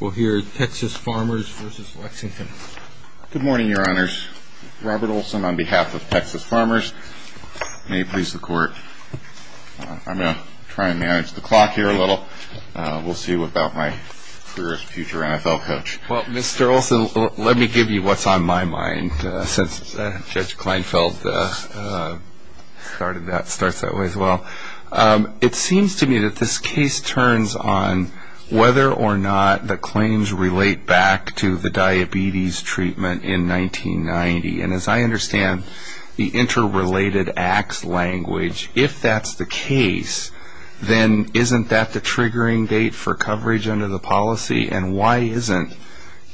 We'll hear Texas Farmers v. Lexington Good morning, Your Honors. Robert Olson on behalf of Texas Farmers. May it please the Court. I'm going to try and manage the clock here a little. We'll see about my career as future NFL coach. Well, Mr. Olson, let me give you what's on my mind since Judge Kleinfeld started that, starts that way as well. It seems to me that this case turns on whether or not the claims relate back to the diabetes treatment in 1990. And as I understand the interrelated acts language, if that's the case, then isn't that the triggering date for coverage under the policy? And why isn't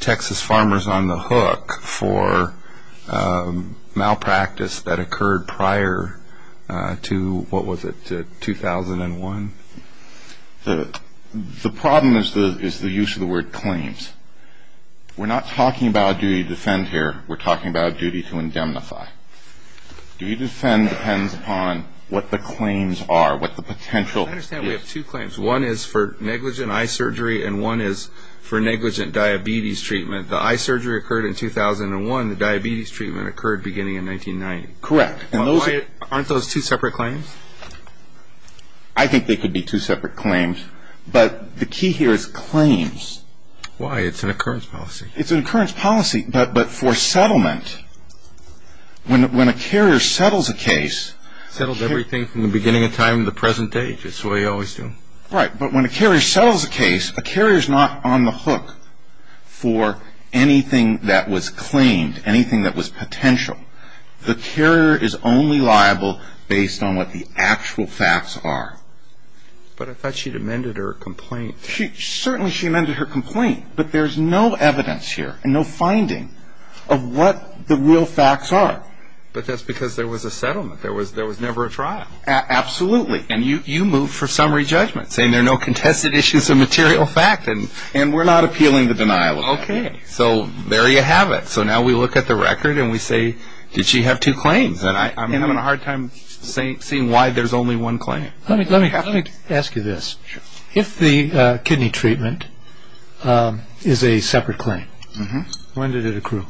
Texas Farmers on the hook for malpractice that occurred prior to, what was it, 2001? The problem is the use of the word claims. We're not talking about a duty to defend here. We're talking about a duty to indemnify. Duty to defend depends upon what the claims are, what the potential is. I understand we have two claims. One is for negligent eye surgery and one is for negligent diabetes treatment. The eye surgery occurred in 2001. The diabetes treatment occurred beginning in 1990. Correct. Aren't those two separate claims? I think they could be two separate claims, but the key here is claims. Why? It's an occurrence policy. It's an occurrence policy, but for settlement, when a carrier settles a case... Right, but when a carrier settles a case, a carrier is not on the hook for anything that was claimed, anything that was potential. The carrier is only liable based on what the actual facts are. But I thought she'd amended her complaint. Certainly she amended her complaint, but there's no evidence here and no finding of what the real facts are. But that's because there was a settlement. There was never a trial. Absolutely, and you move for summary judgment, saying there are no contested issues of material fact, and we're not appealing the denial of that. Okay. So there you have it. So now we look at the record and we say, did she have two claims? I'm having a hard time seeing why there's only one claim. Let me ask you this. If the kidney treatment is a separate claim, when did it accrue?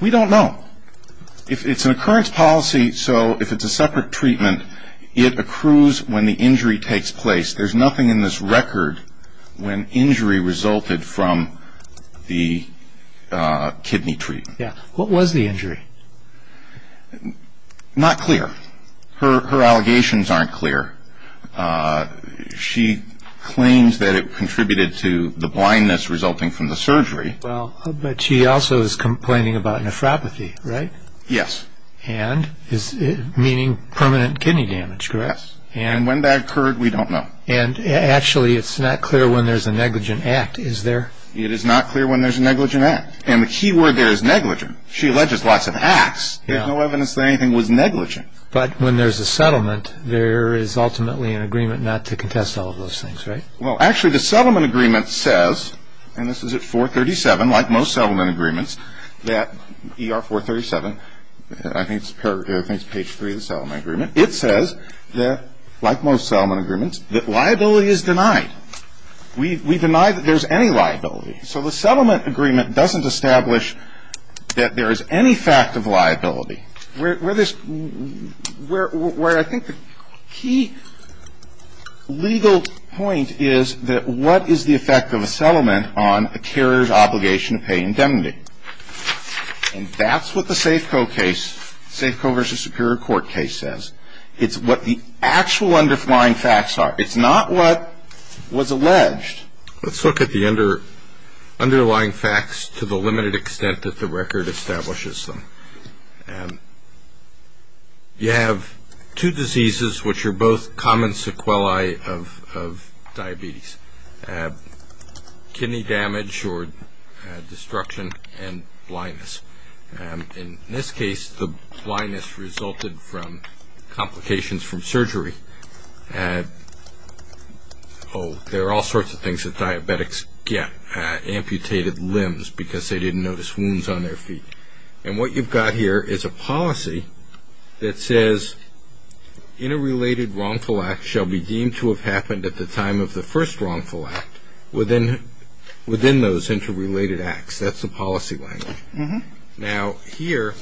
We don't know. It's an occurrence policy, so if it's a separate treatment, it accrues when the injury takes place. There's nothing in this record when injury resulted from the kidney treatment. What was the injury? Not clear. Her allegations aren't clear. She claims that it contributed to the blindness resulting from the surgery. But she also is complaining about nephropathy, right? Yes. Meaning permanent kidney damage, correct? Yes, and when that occurred, we don't know. Actually, it's not clear when there's a negligent act, is there? It is not clear when there's a negligent act, and the key word there is negligent. She alleges lots of acts. There's no evidence that anything was negligent. But when there's a settlement, there is ultimately an agreement not to contest all of those things, right? Well, actually, the settlement agreement says, and this is at 437, like most settlement agreements, that ER 437, I think it's page 3 of the settlement agreement. It says that, like most settlement agreements, that liability is denied. We deny that there's any liability. So the settlement agreement doesn't establish that there is any fact of liability. Where I think the key legal point is that what is the effect of a settlement on a carrier's obligation to pay indemnity? And that's what the Safeco case, Safeco v. Superior Court case, says. It's what the actual underlying facts are. It's not what was alleged. Let's look at the underlying facts to the limited extent that the record establishes them. You have two diseases which are both common sequelae of diabetes, kidney damage or destruction, and blindness. In this case, the blindness resulted from complications from surgery. Oh, there are all sorts of things that diabetics get, amputated limbs because they didn't notice wounds on their feet. And what you've got here is a policy that says, interrelated wrongful acts shall be deemed to have happened at the time of the first wrongful act within those interrelated acts. That's the policy language. Now, here,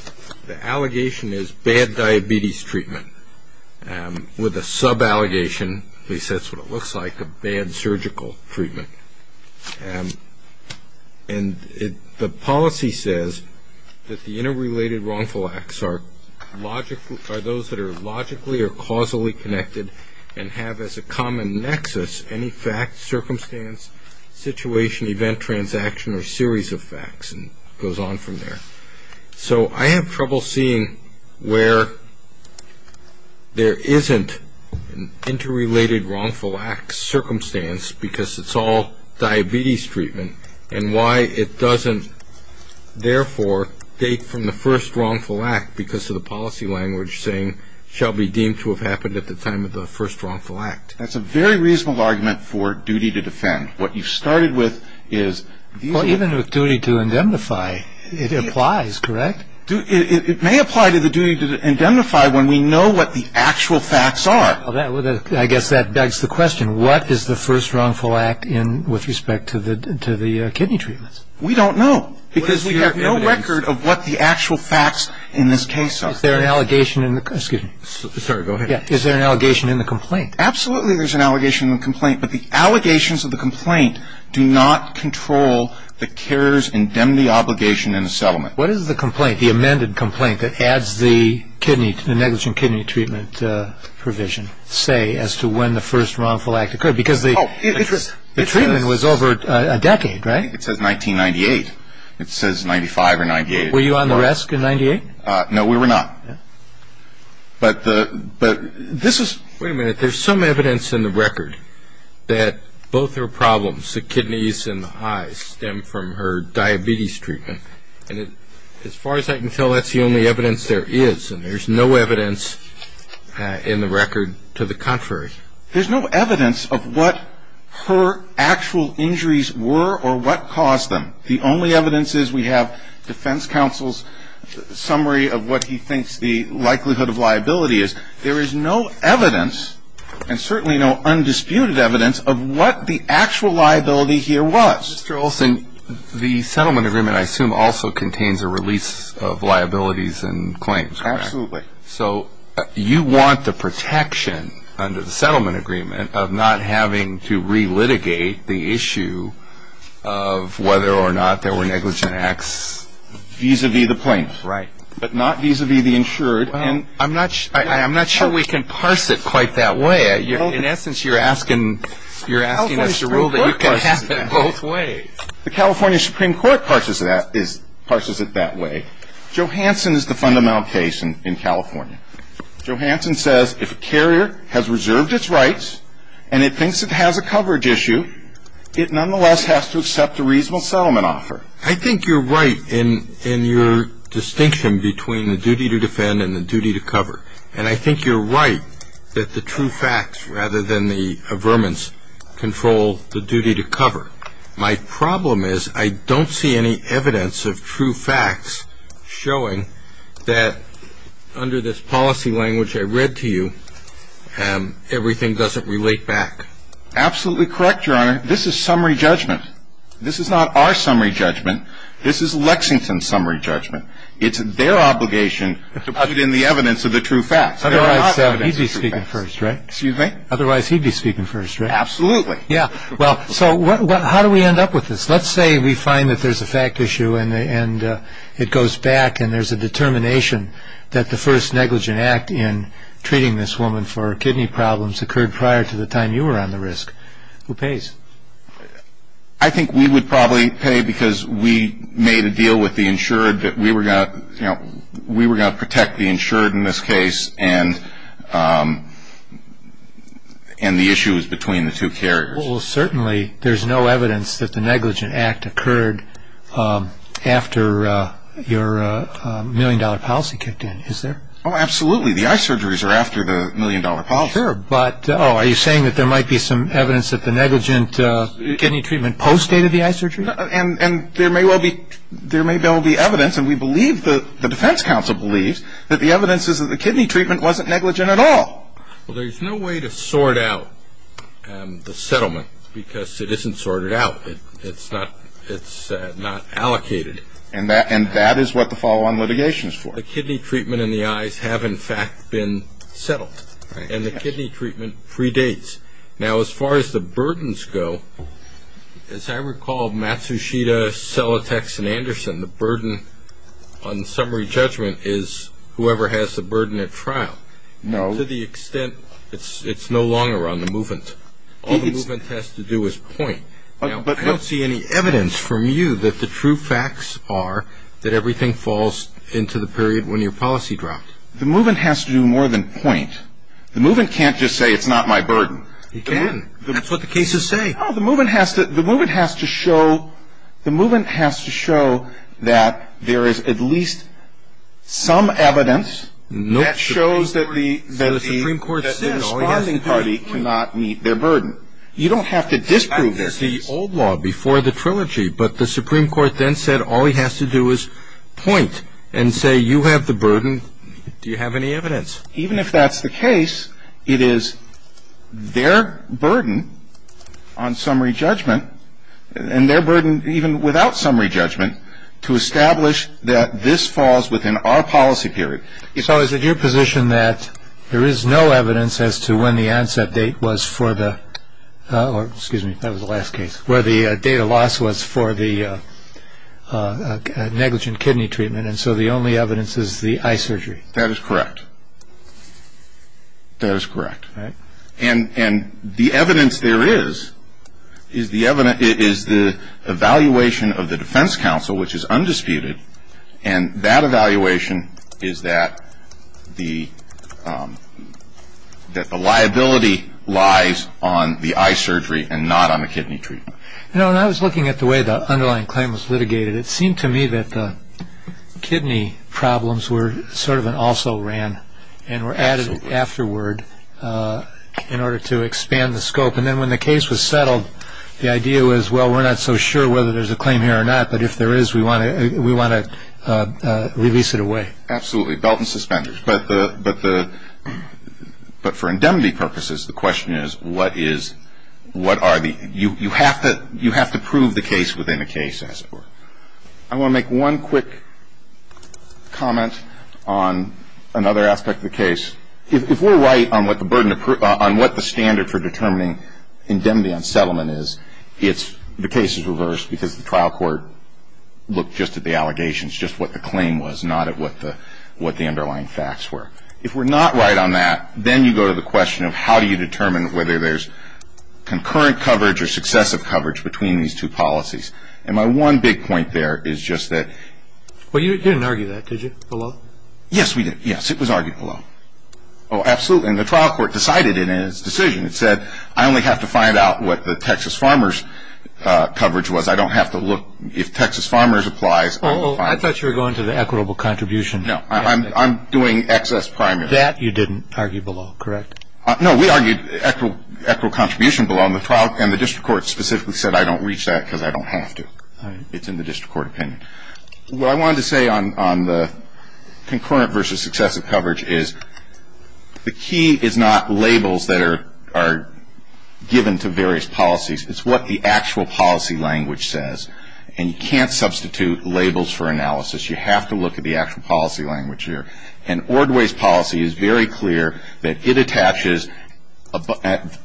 the allegation is bad diabetes treatment with a sub-allegation, at least that's what it looks like, of bad surgical treatment. And the policy says that the interrelated wrongful acts are those that are logically or causally connected and have as a common nexus any fact, circumstance, situation, event, transaction or series of facts, and it goes on from there. So I have trouble seeing where there isn't an interrelated wrongful act circumstance because it's all diabetes treatment and why it doesn't, therefore, date from the first wrongful act because of the policy language saying, shall be deemed to have happened at the time of the first wrongful act. That's a very reasonable argument for duty to defend. What you've started with is these are the facts. Well, even with duty to indemnify, it applies, correct? It may apply to the duty to indemnify when we know what the actual facts are. I guess that begs the question. What is the first wrongful act with respect to the kidney treatments? We don't know because we have no record of what the actual facts in this case are. Is there an allegation in the complaint? Absolutely there's an allegation in the complaint, but the allegations of the complaint do not control the carer's indemnity obligation in the settlement. What does the complaint, the amended complaint, that adds the negligent kidney treatment provision say as to when the first wrongful act occurred? Because the treatment was over a decade, right? It says 1998. It says 95 or 98. Were you on the rest in 98? No, we were not. But this is – Wait a minute. There's some evidence in the record that both her problems, the kidneys and the eyes, stem from her diabetes treatment. And as far as I can tell, that's the only evidence there is. And there's no evidence in the record to the contrary. There's no evidence of what her actual injuries were or what caused them. The only evidence is we have defense counsel's summary of what he thinks the likelihood of liability is. There is no evidence, and certainly no undisputed evidence, of what the actual liability here was. Mr. Olson, the settlement agreement, I assume, also contains a release of liabilities and claims, correct? Absolutely. So you want the protection under the settlement agreement of not having to re-litigate the issue of whether or not there were negligent acts? Vis-à-vis the plaintiff. Right. But not vis-à-vis the insured. I'm not sure we can parse it quite that way. In essence, you're asking us to rule that you can have it both ways. The California Supreme Court parses it that way. Johansson is the fundamental case in California. Johansson says if a carrier has reserved its rights and it thinks it has a coverage issue, it nonetheless has to accept a reasonable settlement offer. I think you're right in your distinction between the duty to defend and the duty to cover. And I think you're right that the true facts, rather than the averments, control the duty to cover. My problem is I don't see any evidence of true facts showing that under this policy language I read to you, everything doesn't relate back. Absolutely correct, Your Honor. This is summary judgment. This is not our summary judgment. This is Lexington's summary judgment. It's their obligation to put in the evidence of the true facts. Otherwise, he'd be speaking first, right? Excuse me? Otherwise, he'd be speaking first, right? Absolutely. So how do we end up with this? Let's say we find that there's a fact issue and it goes back and there's a determination that the first negligent act in treating this woman for kidney problems occurred prior to the time you were on the risk. Who pays? I think we would probably pay because we made a deal with the insured that we were going to protect the insured in this case and the issue is between the two carriers. Well, certainly there's no evidence that the negligent act occurred after your million-dollar policy kicked in. Is there? Oh, absolutely. The eye surgeries are after the million-dollar policy. Sure, but are you saying that there might be some evidence that the negligent kidney treatment post-dated the eye surgery? And there may well be evidence, and we believe, the defense counsel believes, that the evidence is that the kidney treatment wasn't negligent at all. Well, there's no way to sort out the settlement because it isn't sorted out. It's not allocated. And that is what the follow-on litigation is for. The kidney treatment and the eyes have, in fact, been settled. And the kidney treatment predates. Now, as far as the burdens go, as I recall, Matsushita, Selatex, and Anderson, the burden on summary judgment is whoever has the burden at trial. No. To the extent it's no longer on the movement. All the movement has to do is point. Now, I don't see any evidence from you that the true facts are that everything falls into the period when your policy dropped. The movement has to do more than point. The movement can't just say it's not my burden. It can. That's what the cases say. Oh, the movement has to show that there is at least some evidence that shows that the responding party cannot meet their burden. You don't have to disprove their case. It's the old law before the trilogy, but the Supreme Court then said all he has to do is point and say you have the burden. Do you have any evidence? Even if that's the case, it is their burden on summary judgment and their burden even without summary judgment to establish that this falls within our policy period. So is it your position that there is no evidence as to when the onset date was for the – or, excuse me, that was the last case – where the date of loss was for the negligent kidney treatment, and so the only evidence is the eye surgery? That is correct. That is correct. And the evidence there is is the evaluation of the defense counsel, which is undisputed, and that evaluation is that the liability lies on the eye surgery and not on the kidney treatment. You know, when I was looking at the way the underlying claim was litigated, it seemed to me that the kidney problems were sort of an also-ran and were added afterward in order to expand the scope. And then when the case was settled, the idea was, well, we're not so sure whether there's a claim here or not, but if there is, we want to release it away. Absolutely. Belt and suspenders. But for indemnity purposes, the question is, what is – what are the – you have to prove the case within the case, as it were. I want to make one quick comment on another aspect of the case. If we're right on what the standard for determining indemnity on settlement is, the case is reversed because the trial court looked just at the allegations, just what the claim was, not at what the underlying facts were. If we're not right on that, then you go to the question of how do you determine whether there's concurrent coverage or successive coverage between these two policies. And my one big point there is just that – Well, you didn't argue that, did you, below? Yes, we did. Yes, it was argued below. Oh, absolutely. And the trial court decided it in its decision. It said, I only have to find out what the Texas farmers' coverage was. I don't have to look – if Texas farmers' applies, I'll find – Well, I thought you were going to the equitable contribution. No, I'm doing excess primary. That you didn't argue below, correct? No, we argued equitable contribution below, and the district court specifically said, I don't reach that because I don't have to. It's in the district court opinion. What I wanted to say on the concurrent versus successive coverage is, the key is not labels that are given to various policies. It's what the actual policy language says. And you can't substitute labels for analysis. You have to look at the actual policy language here. And Ordway's policy is very clear that it attaches –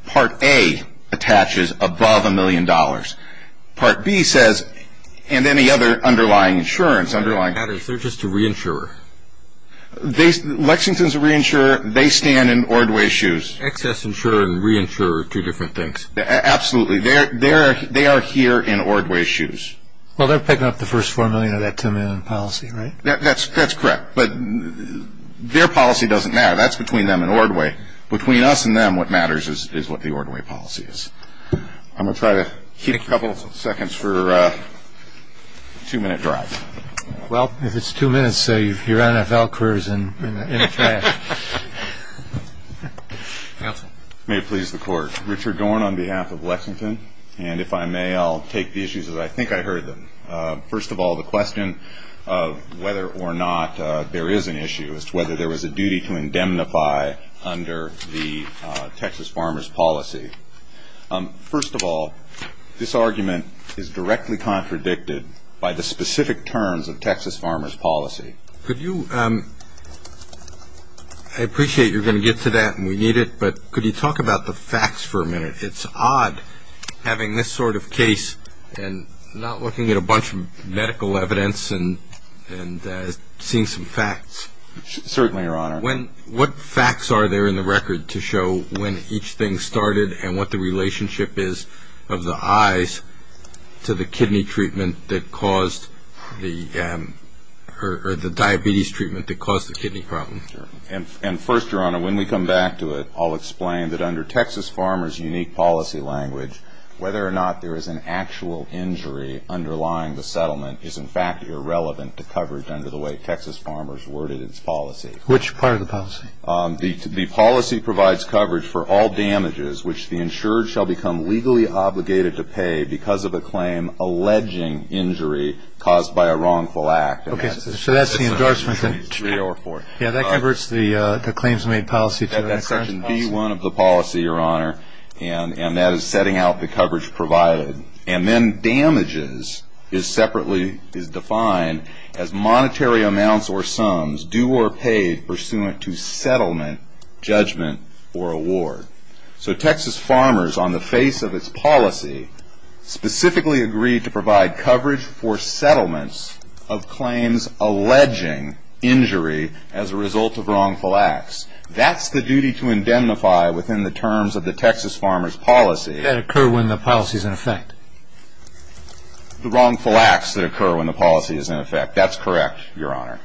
Part A attaches above a million dollars. Part B says – and any other underlying insurance, underlying – They're just a reinsurer. Lexington's a reinsurer. They stand in Ordway's shoes. Excess insurer and reinsurer are two different things. Absolutely. They are here in Ordway's shoes. Well, they're picking up the first $4 million of that $2 million policy, right? That's correct. But their policy doesn't matter. That's between them and Ordway. Between us and them, what matters is what the Ordway policy is. I'm going to try to keep a couple of seconds for a two-minute drive. Well, if it's two minutes, your NFL career is in a flash. Counsel. May it please the Court. Richard Dorn on behalf of Lexington. And if I may, I'll take the issues as I think I heard them. First of all, the question of whether or not there is an issue as to whether there was a duty to indemnify under the Texas Farmers Policy. First of all, this argument is directly contradicted by the specific terms of Texas Farmers Policy. I appreciate you're going to get to that, and we need it, but could you talk about the facts for a minute? It's odd having this sort of case and not looking at a bunch of medical evidence and seeing some facts. Certainly, Your Honor. What facts are there in the record to show when each thing started and what the relationship is of the eyes to the kidney treatment that caused the diabetes treatment that caused the kidney problem? And first, Your Honor, when we come back to it, I'll explain that under Texas Farmers' unique policy language, whether or not there is an actual injury underlying the settlement is, in fact, irrelevant to coverage under the way Texas Farmers worded its policy. Which part of the policy? The policy provides coverage for all damages which the insured shall become legally obligated to pay because of a claim alleging injury caused by a wrongful act. Okay, so that's the endorsement. Yeah, that covers the claims made policy. Section B1 of the policy, Your Honor, and that is setting out the coverage provided. And then damages is separately defined as monetary amounts or sums due or paid pursuant to settlement, judgment, or award. So Texas Farmers, on the face of its policy, specifically agreed to provide coverage for settlements of claims alleging injury as a result of wrongful acts. That's the duty to indemnify within the terms of the Texas Farmers policy. That occur when the policy is in effect. The wrongful acts that occur when the policy is in effect. That's correct, Your Honor.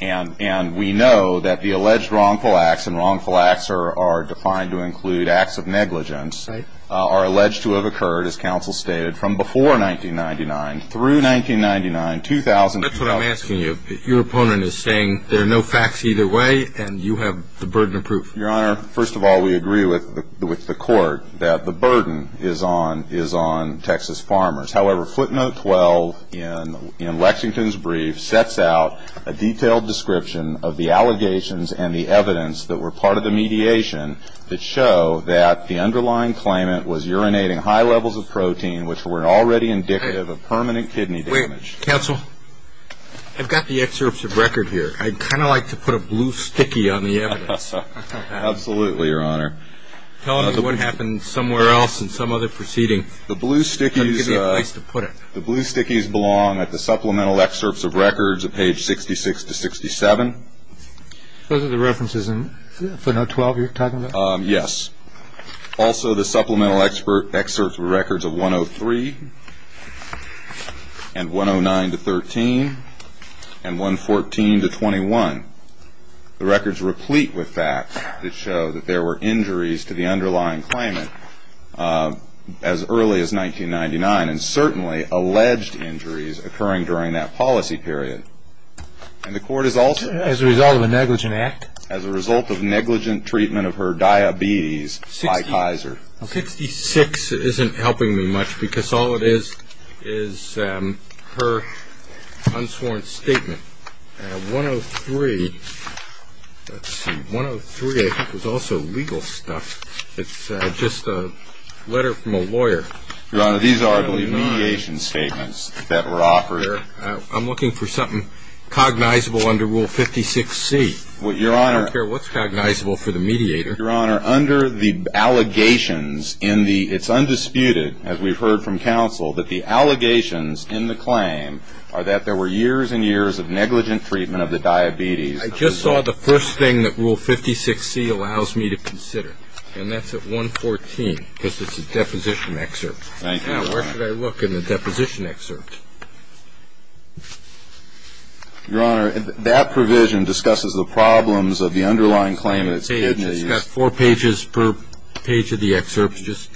And we know that the alleged wrongful acts, and wrongful acts are defined to include acts of negligence, are alleged to have occurred, as counsel stated, from before 1999 through 1999, 2000. That's what I'm asking you. Your opponent is saying there are no facts either way and you have the burden of proof. Your Honor, first of all, we agree with the court that the burden is on Texas Farmers. However, footnote 12 in Lexington's brief sets out a detailed description of the allegations and the evidence that were part of the mediation that show that the underlying claimant was urinating high levels of protein, which were already indicative of permanent kidney damage. Wait, counsel, I've got the excerpts of record here. I'd kind of like to put a blue sticky on the evidence. Absolutely, Your Honor. Tell me what happened somewhere else in some other proceeding. The blue stickies belong at the supplemental excerpts of records at page 66 to 67. Those are the references in footnote 12 you're talking about? Yes. Also the supplemental excerpts of records of 103 and 109 to 13 and 114 to 21. The records replete with facts that show that there were injuries to the underlying claimant as early as 1999 and certainly alleged injuries occurring during that policy period. And the court has also- As a result of a negligent act? As a result of negligent treatment of her diabetes by Kaiser. 66 isn't helping me much because all it is is her unsworn statement. 103, let's see, 103 I think is also legal stuff. It's just a letter from a lawyer. Your Honor, these are, I believe, mediation statements that were offered. I'm looking for something cognizable under Rule 56C. Your Honor- I don't care what's cognizable for the mediator. Your Honor, under the allegations in the- it's undisputed, as we've heard from counsel, that the allegations in the claim are that there were years and years of negligent treatment of the diabetes. I just saw the first thing that Rule 56C allows me to consider, and that's at 114, because it's a deposition excerpt. Thank you, Your Honor. Now where should I look in the deposition excerpt? Your Honor, that provision discusses the problems of the underlying claimant's kidney. It's got four pages per page of the excerpt. Just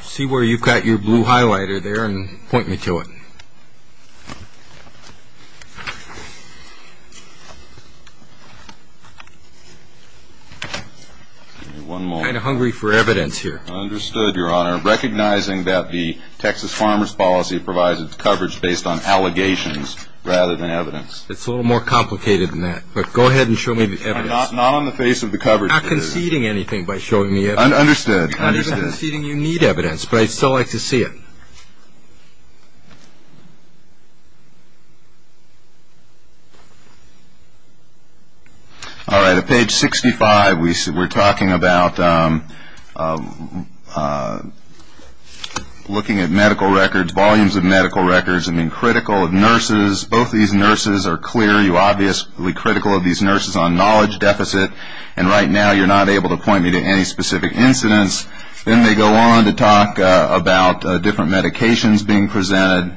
see where you've got your blue highlighter there and point me to it. Give me one moment. I'm kind of hungry for evidence here. Understood, Your Honor. Recognizing that the Texas Farmers Policy provides its coverage based on allegations rather than evidence. It's a little more complicated than that, but go ahead and show me the evidence. Not on the face of the coverage. I'm not conceding anything by showing me evidence. Understood. I'm not conceding you need evidence, but I'd still like to see it. All right. At page 65, we're talking about looking at medical records, volumes of medical records, and being critical of nurses. Both these nurses are clear. You're obviously critical of these nurses on knowledge deficit, and right now you're not able to point me to any specific incidents. Then they go on to talk about different medications being presented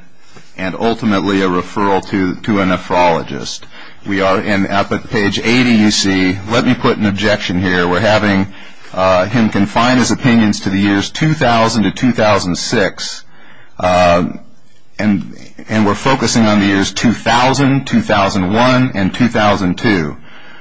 and ultimately a referral to a nephrologist. We are at page 80, you see. Let me put an objection here. We're having him confine his opinions to the years 2000 to 2006, and we're focusing on the years 2000, 2001, and 2002.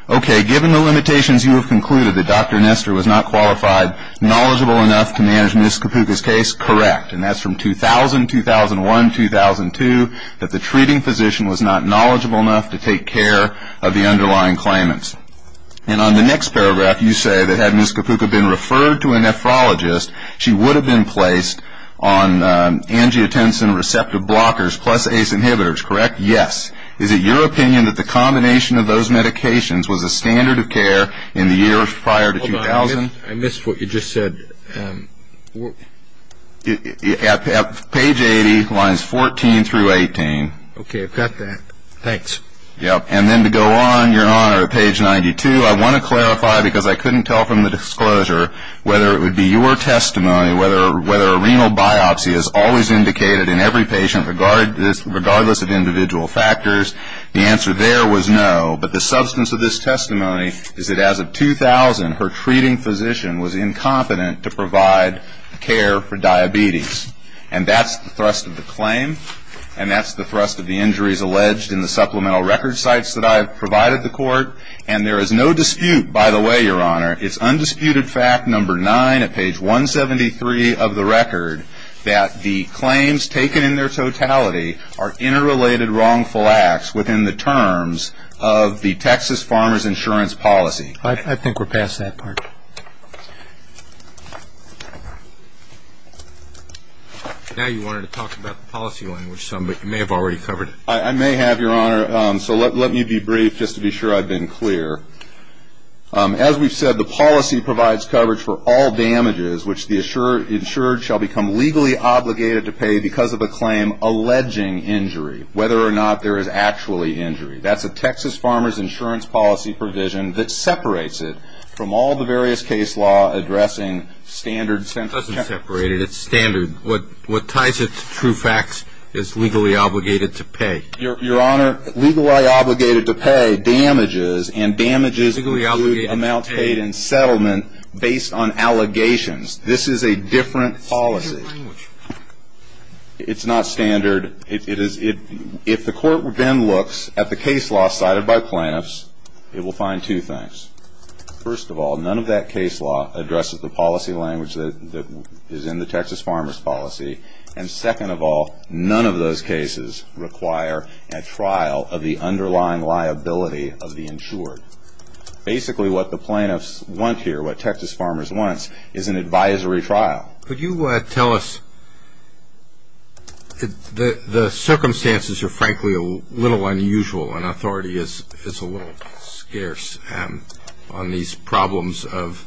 Okay. Given the limitations, you have concluded that Dr. Nestor was not qualified, knowledgeable enough to manage Ms. Kapuka's case. Correct. And that's from 2000, 2001, 2002, that the treating physician was not knowledgeable enough to take care of the underlying claimants. And on the next paragraph, you say that had Ms. Kapuka been referred to a nephrologist, she would have been placed on angiotensin receptive blockers plus ACE inhibitors. Correct? Yes. Is it your opinion that the combination of those medications was a standard of care in the years prior to 2000? Hold on. I missed what you just said. Page 80, lines 14 through 18. Okay. I've got that. Thanks. And then to go on, Your Honor, to page 92, I want to clarify because I couldn't tell from the disclosure whether it would be your testimony whether a renal biopsy is always indicated in every patient regardless of individual factors. The answer there was no. But the substance of this testimony is that as of 2000, her treating physician was incompetent to provide care for diabetes. And that's the thrust of the claim, and that's the thrust of the injuries alleged in the supplemental record sites that I have provided the court. And there is no dispute, by the way, Your Honor, it's undisputed fact, number nine, at page 173 of the record, that the claims taken in their totality are interrelated wrongful acts within the terms of the Texas Farmer's Insurance Policy. I think we're past that part. Now you wanted to talk about the policy language some, but you may have already covered it. I may have, Your Honor. So let me be brief just to be sure I've been clear. As we've said, the policy provides coverage for all damages, which the insured shall become legally obligated to pay because of a claim alleging injury, whether or not there is actually injury. That's a Texas Farmer's Insurance Policy provision that separates it from all the various case law addressing standard sentences. It doesn't separate it. It's standard. What ties it to true facts is legally obligated to pay. Your Honor, legally obligated to pay damages, and damages include amounts paid in settlement based on allegations. This is a different policy. It's not standard. If the court then looks at the case law cited by plaintiffs, it will find two things. First of all, none of that case law addresses the policy language that is in the Texas Farmer's Policy. And second of all, none of those cases require a trial of the underlying liability of the insured. Basically what the plaintiffs want here, what Texas Farmers wants, is an advisory trial. Could you tell us, the circumstances are frankly a little unusual, and authority is a little scarce on these problems of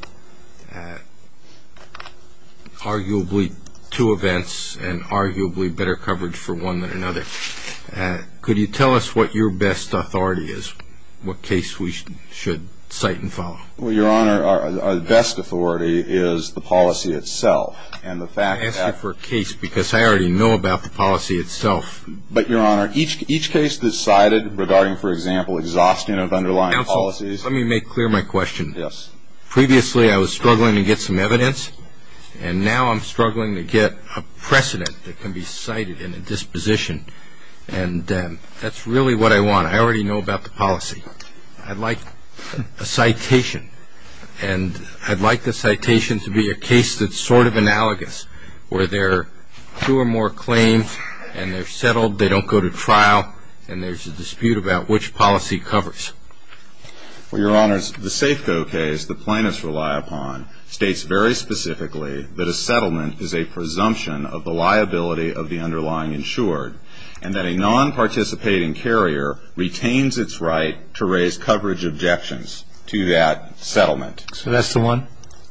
arguably two events and arguably better coverage for one than another. Could you tell us what your best authority is, what case we should cite and follow? Well, Your Honor, our best authority is the policy itself, and the fact that I asked you for a case because I already know about the policy itself. But, Your Honor, each case that's cited regarding, for example, exhaustion of underlying policies Counsel, let me make clear my question. Yes. Previously I was struggling to get some evidence, and now I'm struggling to get a precedent that can be cited in a disposition. And that's really what I want. I already know about the policy. I'd like a citation, and I'd like the citation to be a case that's sort of analogous, where there are two or more claims, and they're settled, they don't go to trial, and there's a dispute about which policy covers. Well, Your Honor, the Safeco case the plaintiffs rely upon states very specifically that a settlement is a presumption of the liability of the underlying insured, and that a non-participating carrier retains its right to raise coverage objections to that settlement. So that's the one?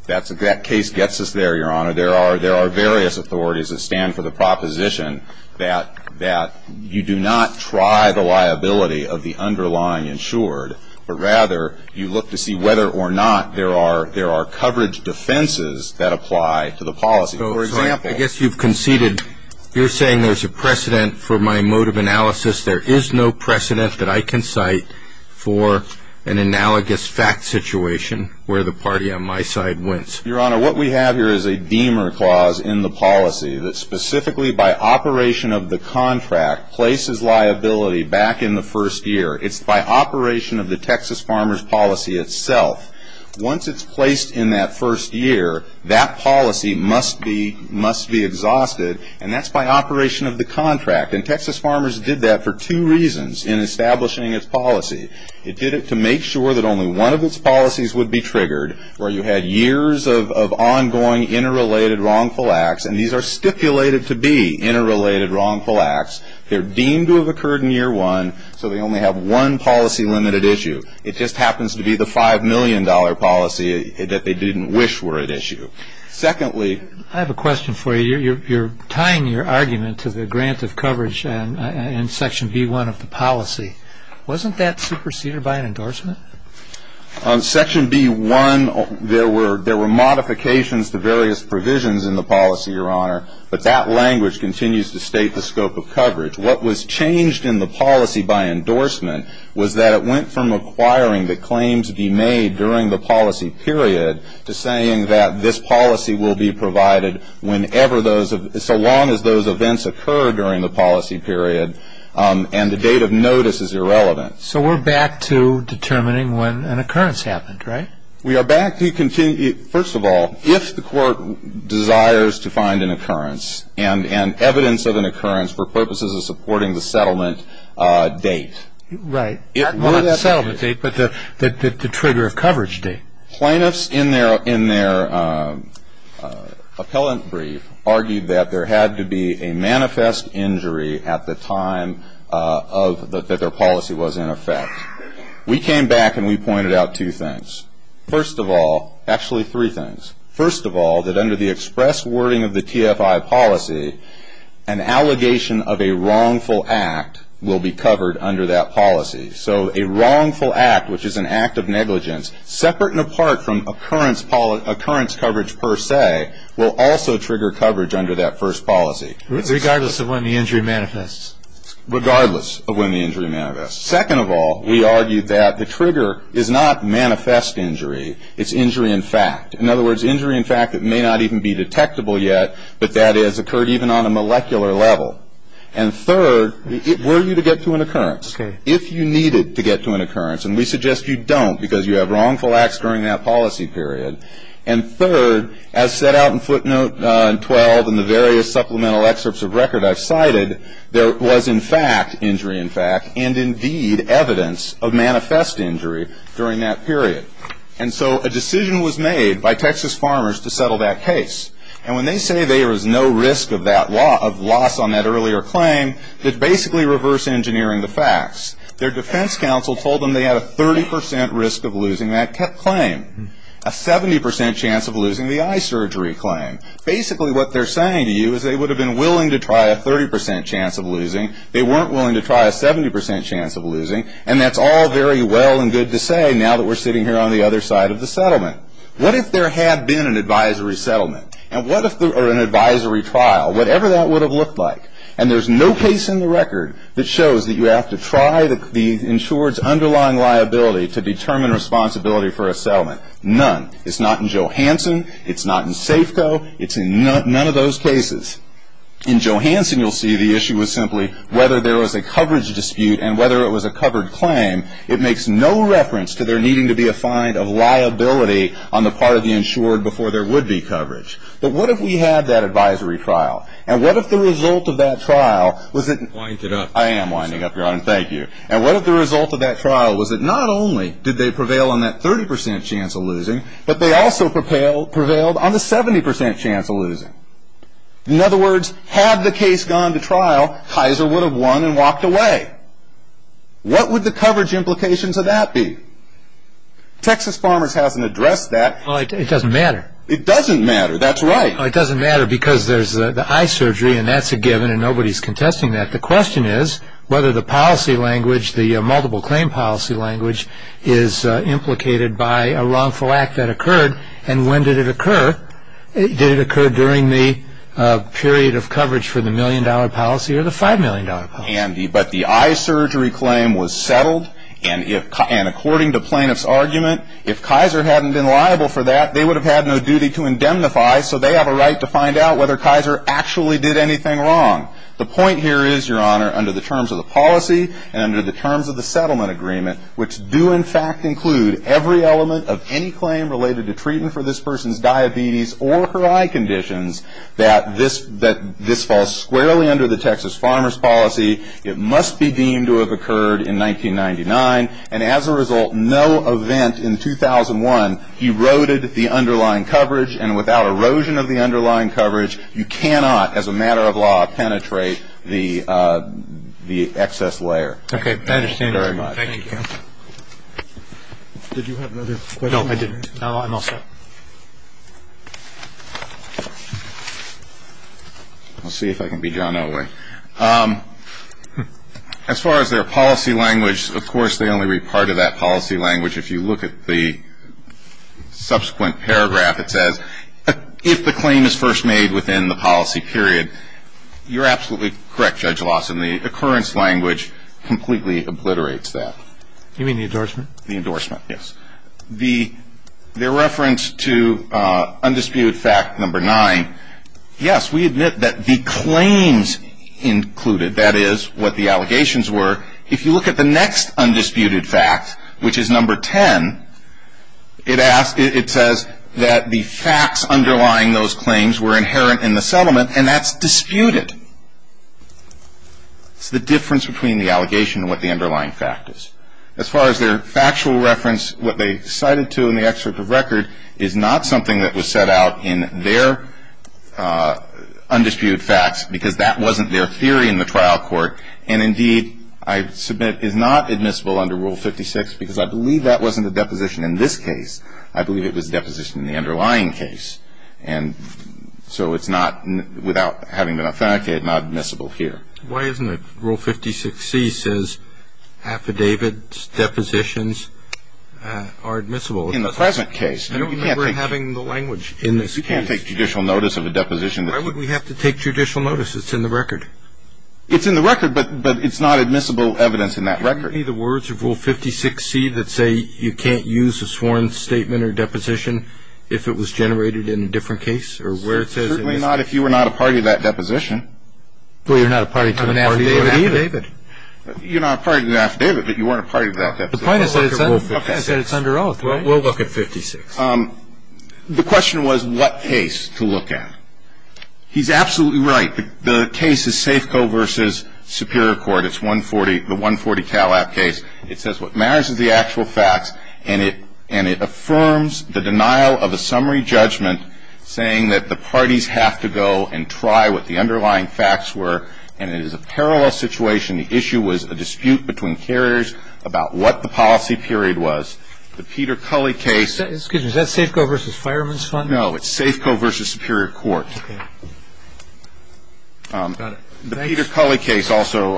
That case gets us there, Your Honor. There are various authorities that stand for the proposition that you do not try the liability of the underlying insured, but rather you look to see whether or not there are coverage defenses that apply to the policy. I guess you've conceded you're saying there's a precedent for my mode of analysis. There is no precedent that I can cite for an analogous fact situation where the party on my side wins. Your Honor, what we have here is a Deamer Clause in the policy that specifically by operation of the contract places liability back in the first year. It's by operation of the Texas Farmers Policy itself. Once it's placed in that first year, that policy must be exhausted, and that's by operation of the contract. And Texas Farmers did that for two reasons in establishing its policy. It did it to make sure that only one of its policies would be triggered, where you had years of ongoing interrelated wrongful acts, and these are stipulated to be interrelated wrongful acts. They're deemed to have occurred in year one, so they only have one policy-limited issue. It just happens to be the $5 million policy that they didn't wish were at issue. Secondly- I have a question for you. You're tying your argument to the grant of coverage in Section B-1 of the policy. Wasn't that superseded by an endorsement? On Section B-1, there were modifications to various provisions in the policy, Your Honor, but that language continues to state the scope of coverage. What was changed in the policy by endorsement was that it went from acquiring the claims to be made during the policy period to saying that this policy will be provided whenever those-so long as those events occur during the policy period and the date of notice is irrelevant. So we're back to determining when an occurrence happened, right? We are back to-first of all, if the court desires to find an occurrence and evidence of an occurrence for purposes of supporting the settlement date- Right. Not the settlement date, but the trigger of coverage date. Plaintiffs in their appellant brief argued that there had to be a manifest injury at the time that their policy was in effect. We came back and we pointed out two things. First of all-actually, three things. First of all, that under the express wording of the TFI policy, an allegation of a wrongful act will be covered under that policy. So a wrongful act, which is an act of negligence, separate and apart from occurrence coverage per se, will also trigger coverage under that first policy. Regardless of when the injury manifests. Regardless of when the injury manifests. Second of all, we argued that the trigger is not manifest injury, it's injury in fact. In other words, injury in fact that may not even be detectable yet, but that has occurred even on a molecular level. And third, were you to get to an occurrence, if you needed to get to an occurrence, and we suggest you don't because you have wrongful acts during that policy period. And third, as set out in footnote 12 and the various supplemental excerpts of record I've cited, there was in fact injury in fact and indeed evidence of manifest injury during that period. And so a decision was made by Texas farmers to settle that case. And when they say there is no risk of loss on that earlier claim, they basically reverse engineering the facts. Their defense counsel told them they had a 30% risk of losing that claim. A 70% chance of losing the eye surgery claim. Basically what they're saying to you is they would have been willing to try a 30% chance of losing. They weren't willing to try a 70% chance of losing. And that's all very well and good to say now that we're sitting here on the other side of the settlement. What if there had been an advisory settlement? Or an advisory trial? Whatever that would have looked like. And there's no case in the record that shows that you have to try the insured's underlying liability to determine responsibility for a settlement. None. It's not in Johansson. It's not in Safeco. It's in none of those cases. In Johansson you'll see the issue was simply whether there was a coverage dispute and whether it was a covered claim. It makes no reference to there needing to be a find of liability on the part of the insured before there would be coverage. But what if we had that advisory trial? And what if the result of that trial was that... Wind it up. I am winding up, Your Honor. Thank you. And what if the result of that trial was that not only did they prevail on that 30% chance of losing, but they also prevailed on the 70% chance of losing? In other words, had the case gone to trial, Kaiser would have won and walked away. What would the coverage implications of that be? Texas Farmers hasn't addressed that. It doesn't matter. It doesn't matter. That's right. It doesn't matter because there's the eye surgery and that's a given and nobody's contesting that. The question is whether the policy language, the multiple claim policy language, is implicated by a wrongful act that occurred. And when did it occur? Did it occur during the period of coverage for the million-dollar policy or the five-million-dollar policy? But the eye surgery claim was settled, and according to plaintiff's argument, if Kaiser hadn't been liable for that, they would have had no duty to indemnify, so they have a right to find out whether Kaiser actually did anything wrong. The point here is, Your Honor, under the terms of the policy and under the terms of the settlement agreement, which do, in fact, include every element of any claim related to treatment for this person's diabetes or her eye conditions, that this falls squarely under the Texas Farmers policy, it must be deemed to have occurred in 1999, and as a result, no event in 2001 eroded the underlying coverage, and without erosion of the underlying coverage, you cannot, as a matter of law, penetrate the excess layer. Okay. I understand very much. Thank you. Did you have another question? No, I didn't. I'm all set. I'll see if I can be John Otway. As far as their policy language, of course, they only read part of that policy language. If you look at the subsequent paragraph, it says, if the claim is first made within the policy period, you're absolutely correct, Judge Lawson. The occurrence language completely obliterates that. You mean the endorsement? The endorsement, yes. The reference to undisputed fact number nine, yes, we admit that the claims included, that is what the allegations were. If you look at the next undisputed fact, which is number ten, it asks, it says that the facts underlying those claims were inherent in the settlement, and that's disputed. It's the difference between the allegation and what the underlying fact is. As far as their factual reference, what they cited to in the excerpt of record is not something that was set out in their undisputed facts, because that wasn't their theory in the trial court, and indeed, I submit, is not admissible under Rule 56, because I believe that wasn't a deposition in this case. I believe it was a deposition in the underlying case. And so it's not, without having been authenticated, not admissible here. Why isn't it? Rule 56C says affidavits, depositions are admissible. In the present case. I don't remember having the language in this case. You can't take judicial notice of a deposition. Why would we have to take judicial notice? It's in the record. It's in the record, but it's not admissible evidence in that record. Can you give me the words of Rule 56C that say you can't use a sworn statement or deposition if it was generated in a different case or where it says it is? Certainly not if you were not a party to that deposition. Well, you're not a party to an affidavit either. You're not a party to an affidavit, but you weren't a party to that deposition. The point is that it's under oath, right? We'll look at 56. The question was what case to look at. He's absolutely right. The case is Safeco v. Superior Court. It's 140, the 140 Calab case. It says what matters is the actual facts, and it affirms the denial of a summary judgment saying that the parties have to go and try what the underlying facts were, and it is a parallel situation. The issue was a dispute between carriers about what the policy period was. The Peter Culley case. Excuse me. Is that Safeco v. Fireman's Fund? No, it's Safeco v. Superior Court. Got it. The Peter Culley case also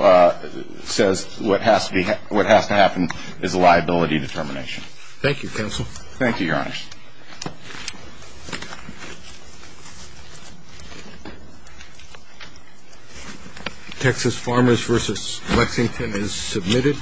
says what has to happen is a liability determination. Thank you, counsel. Thank you, Your Honor. Texas Farmers v. Lexington is submitted.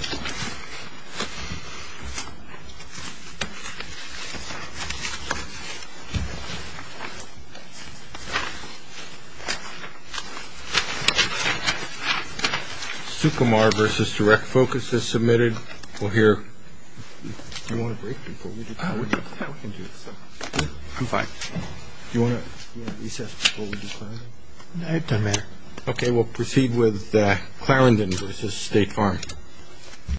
Supamar v. Direct Focus is submitted. We'll hear. Okay, we'll proceed with Clarendon v. State Farm.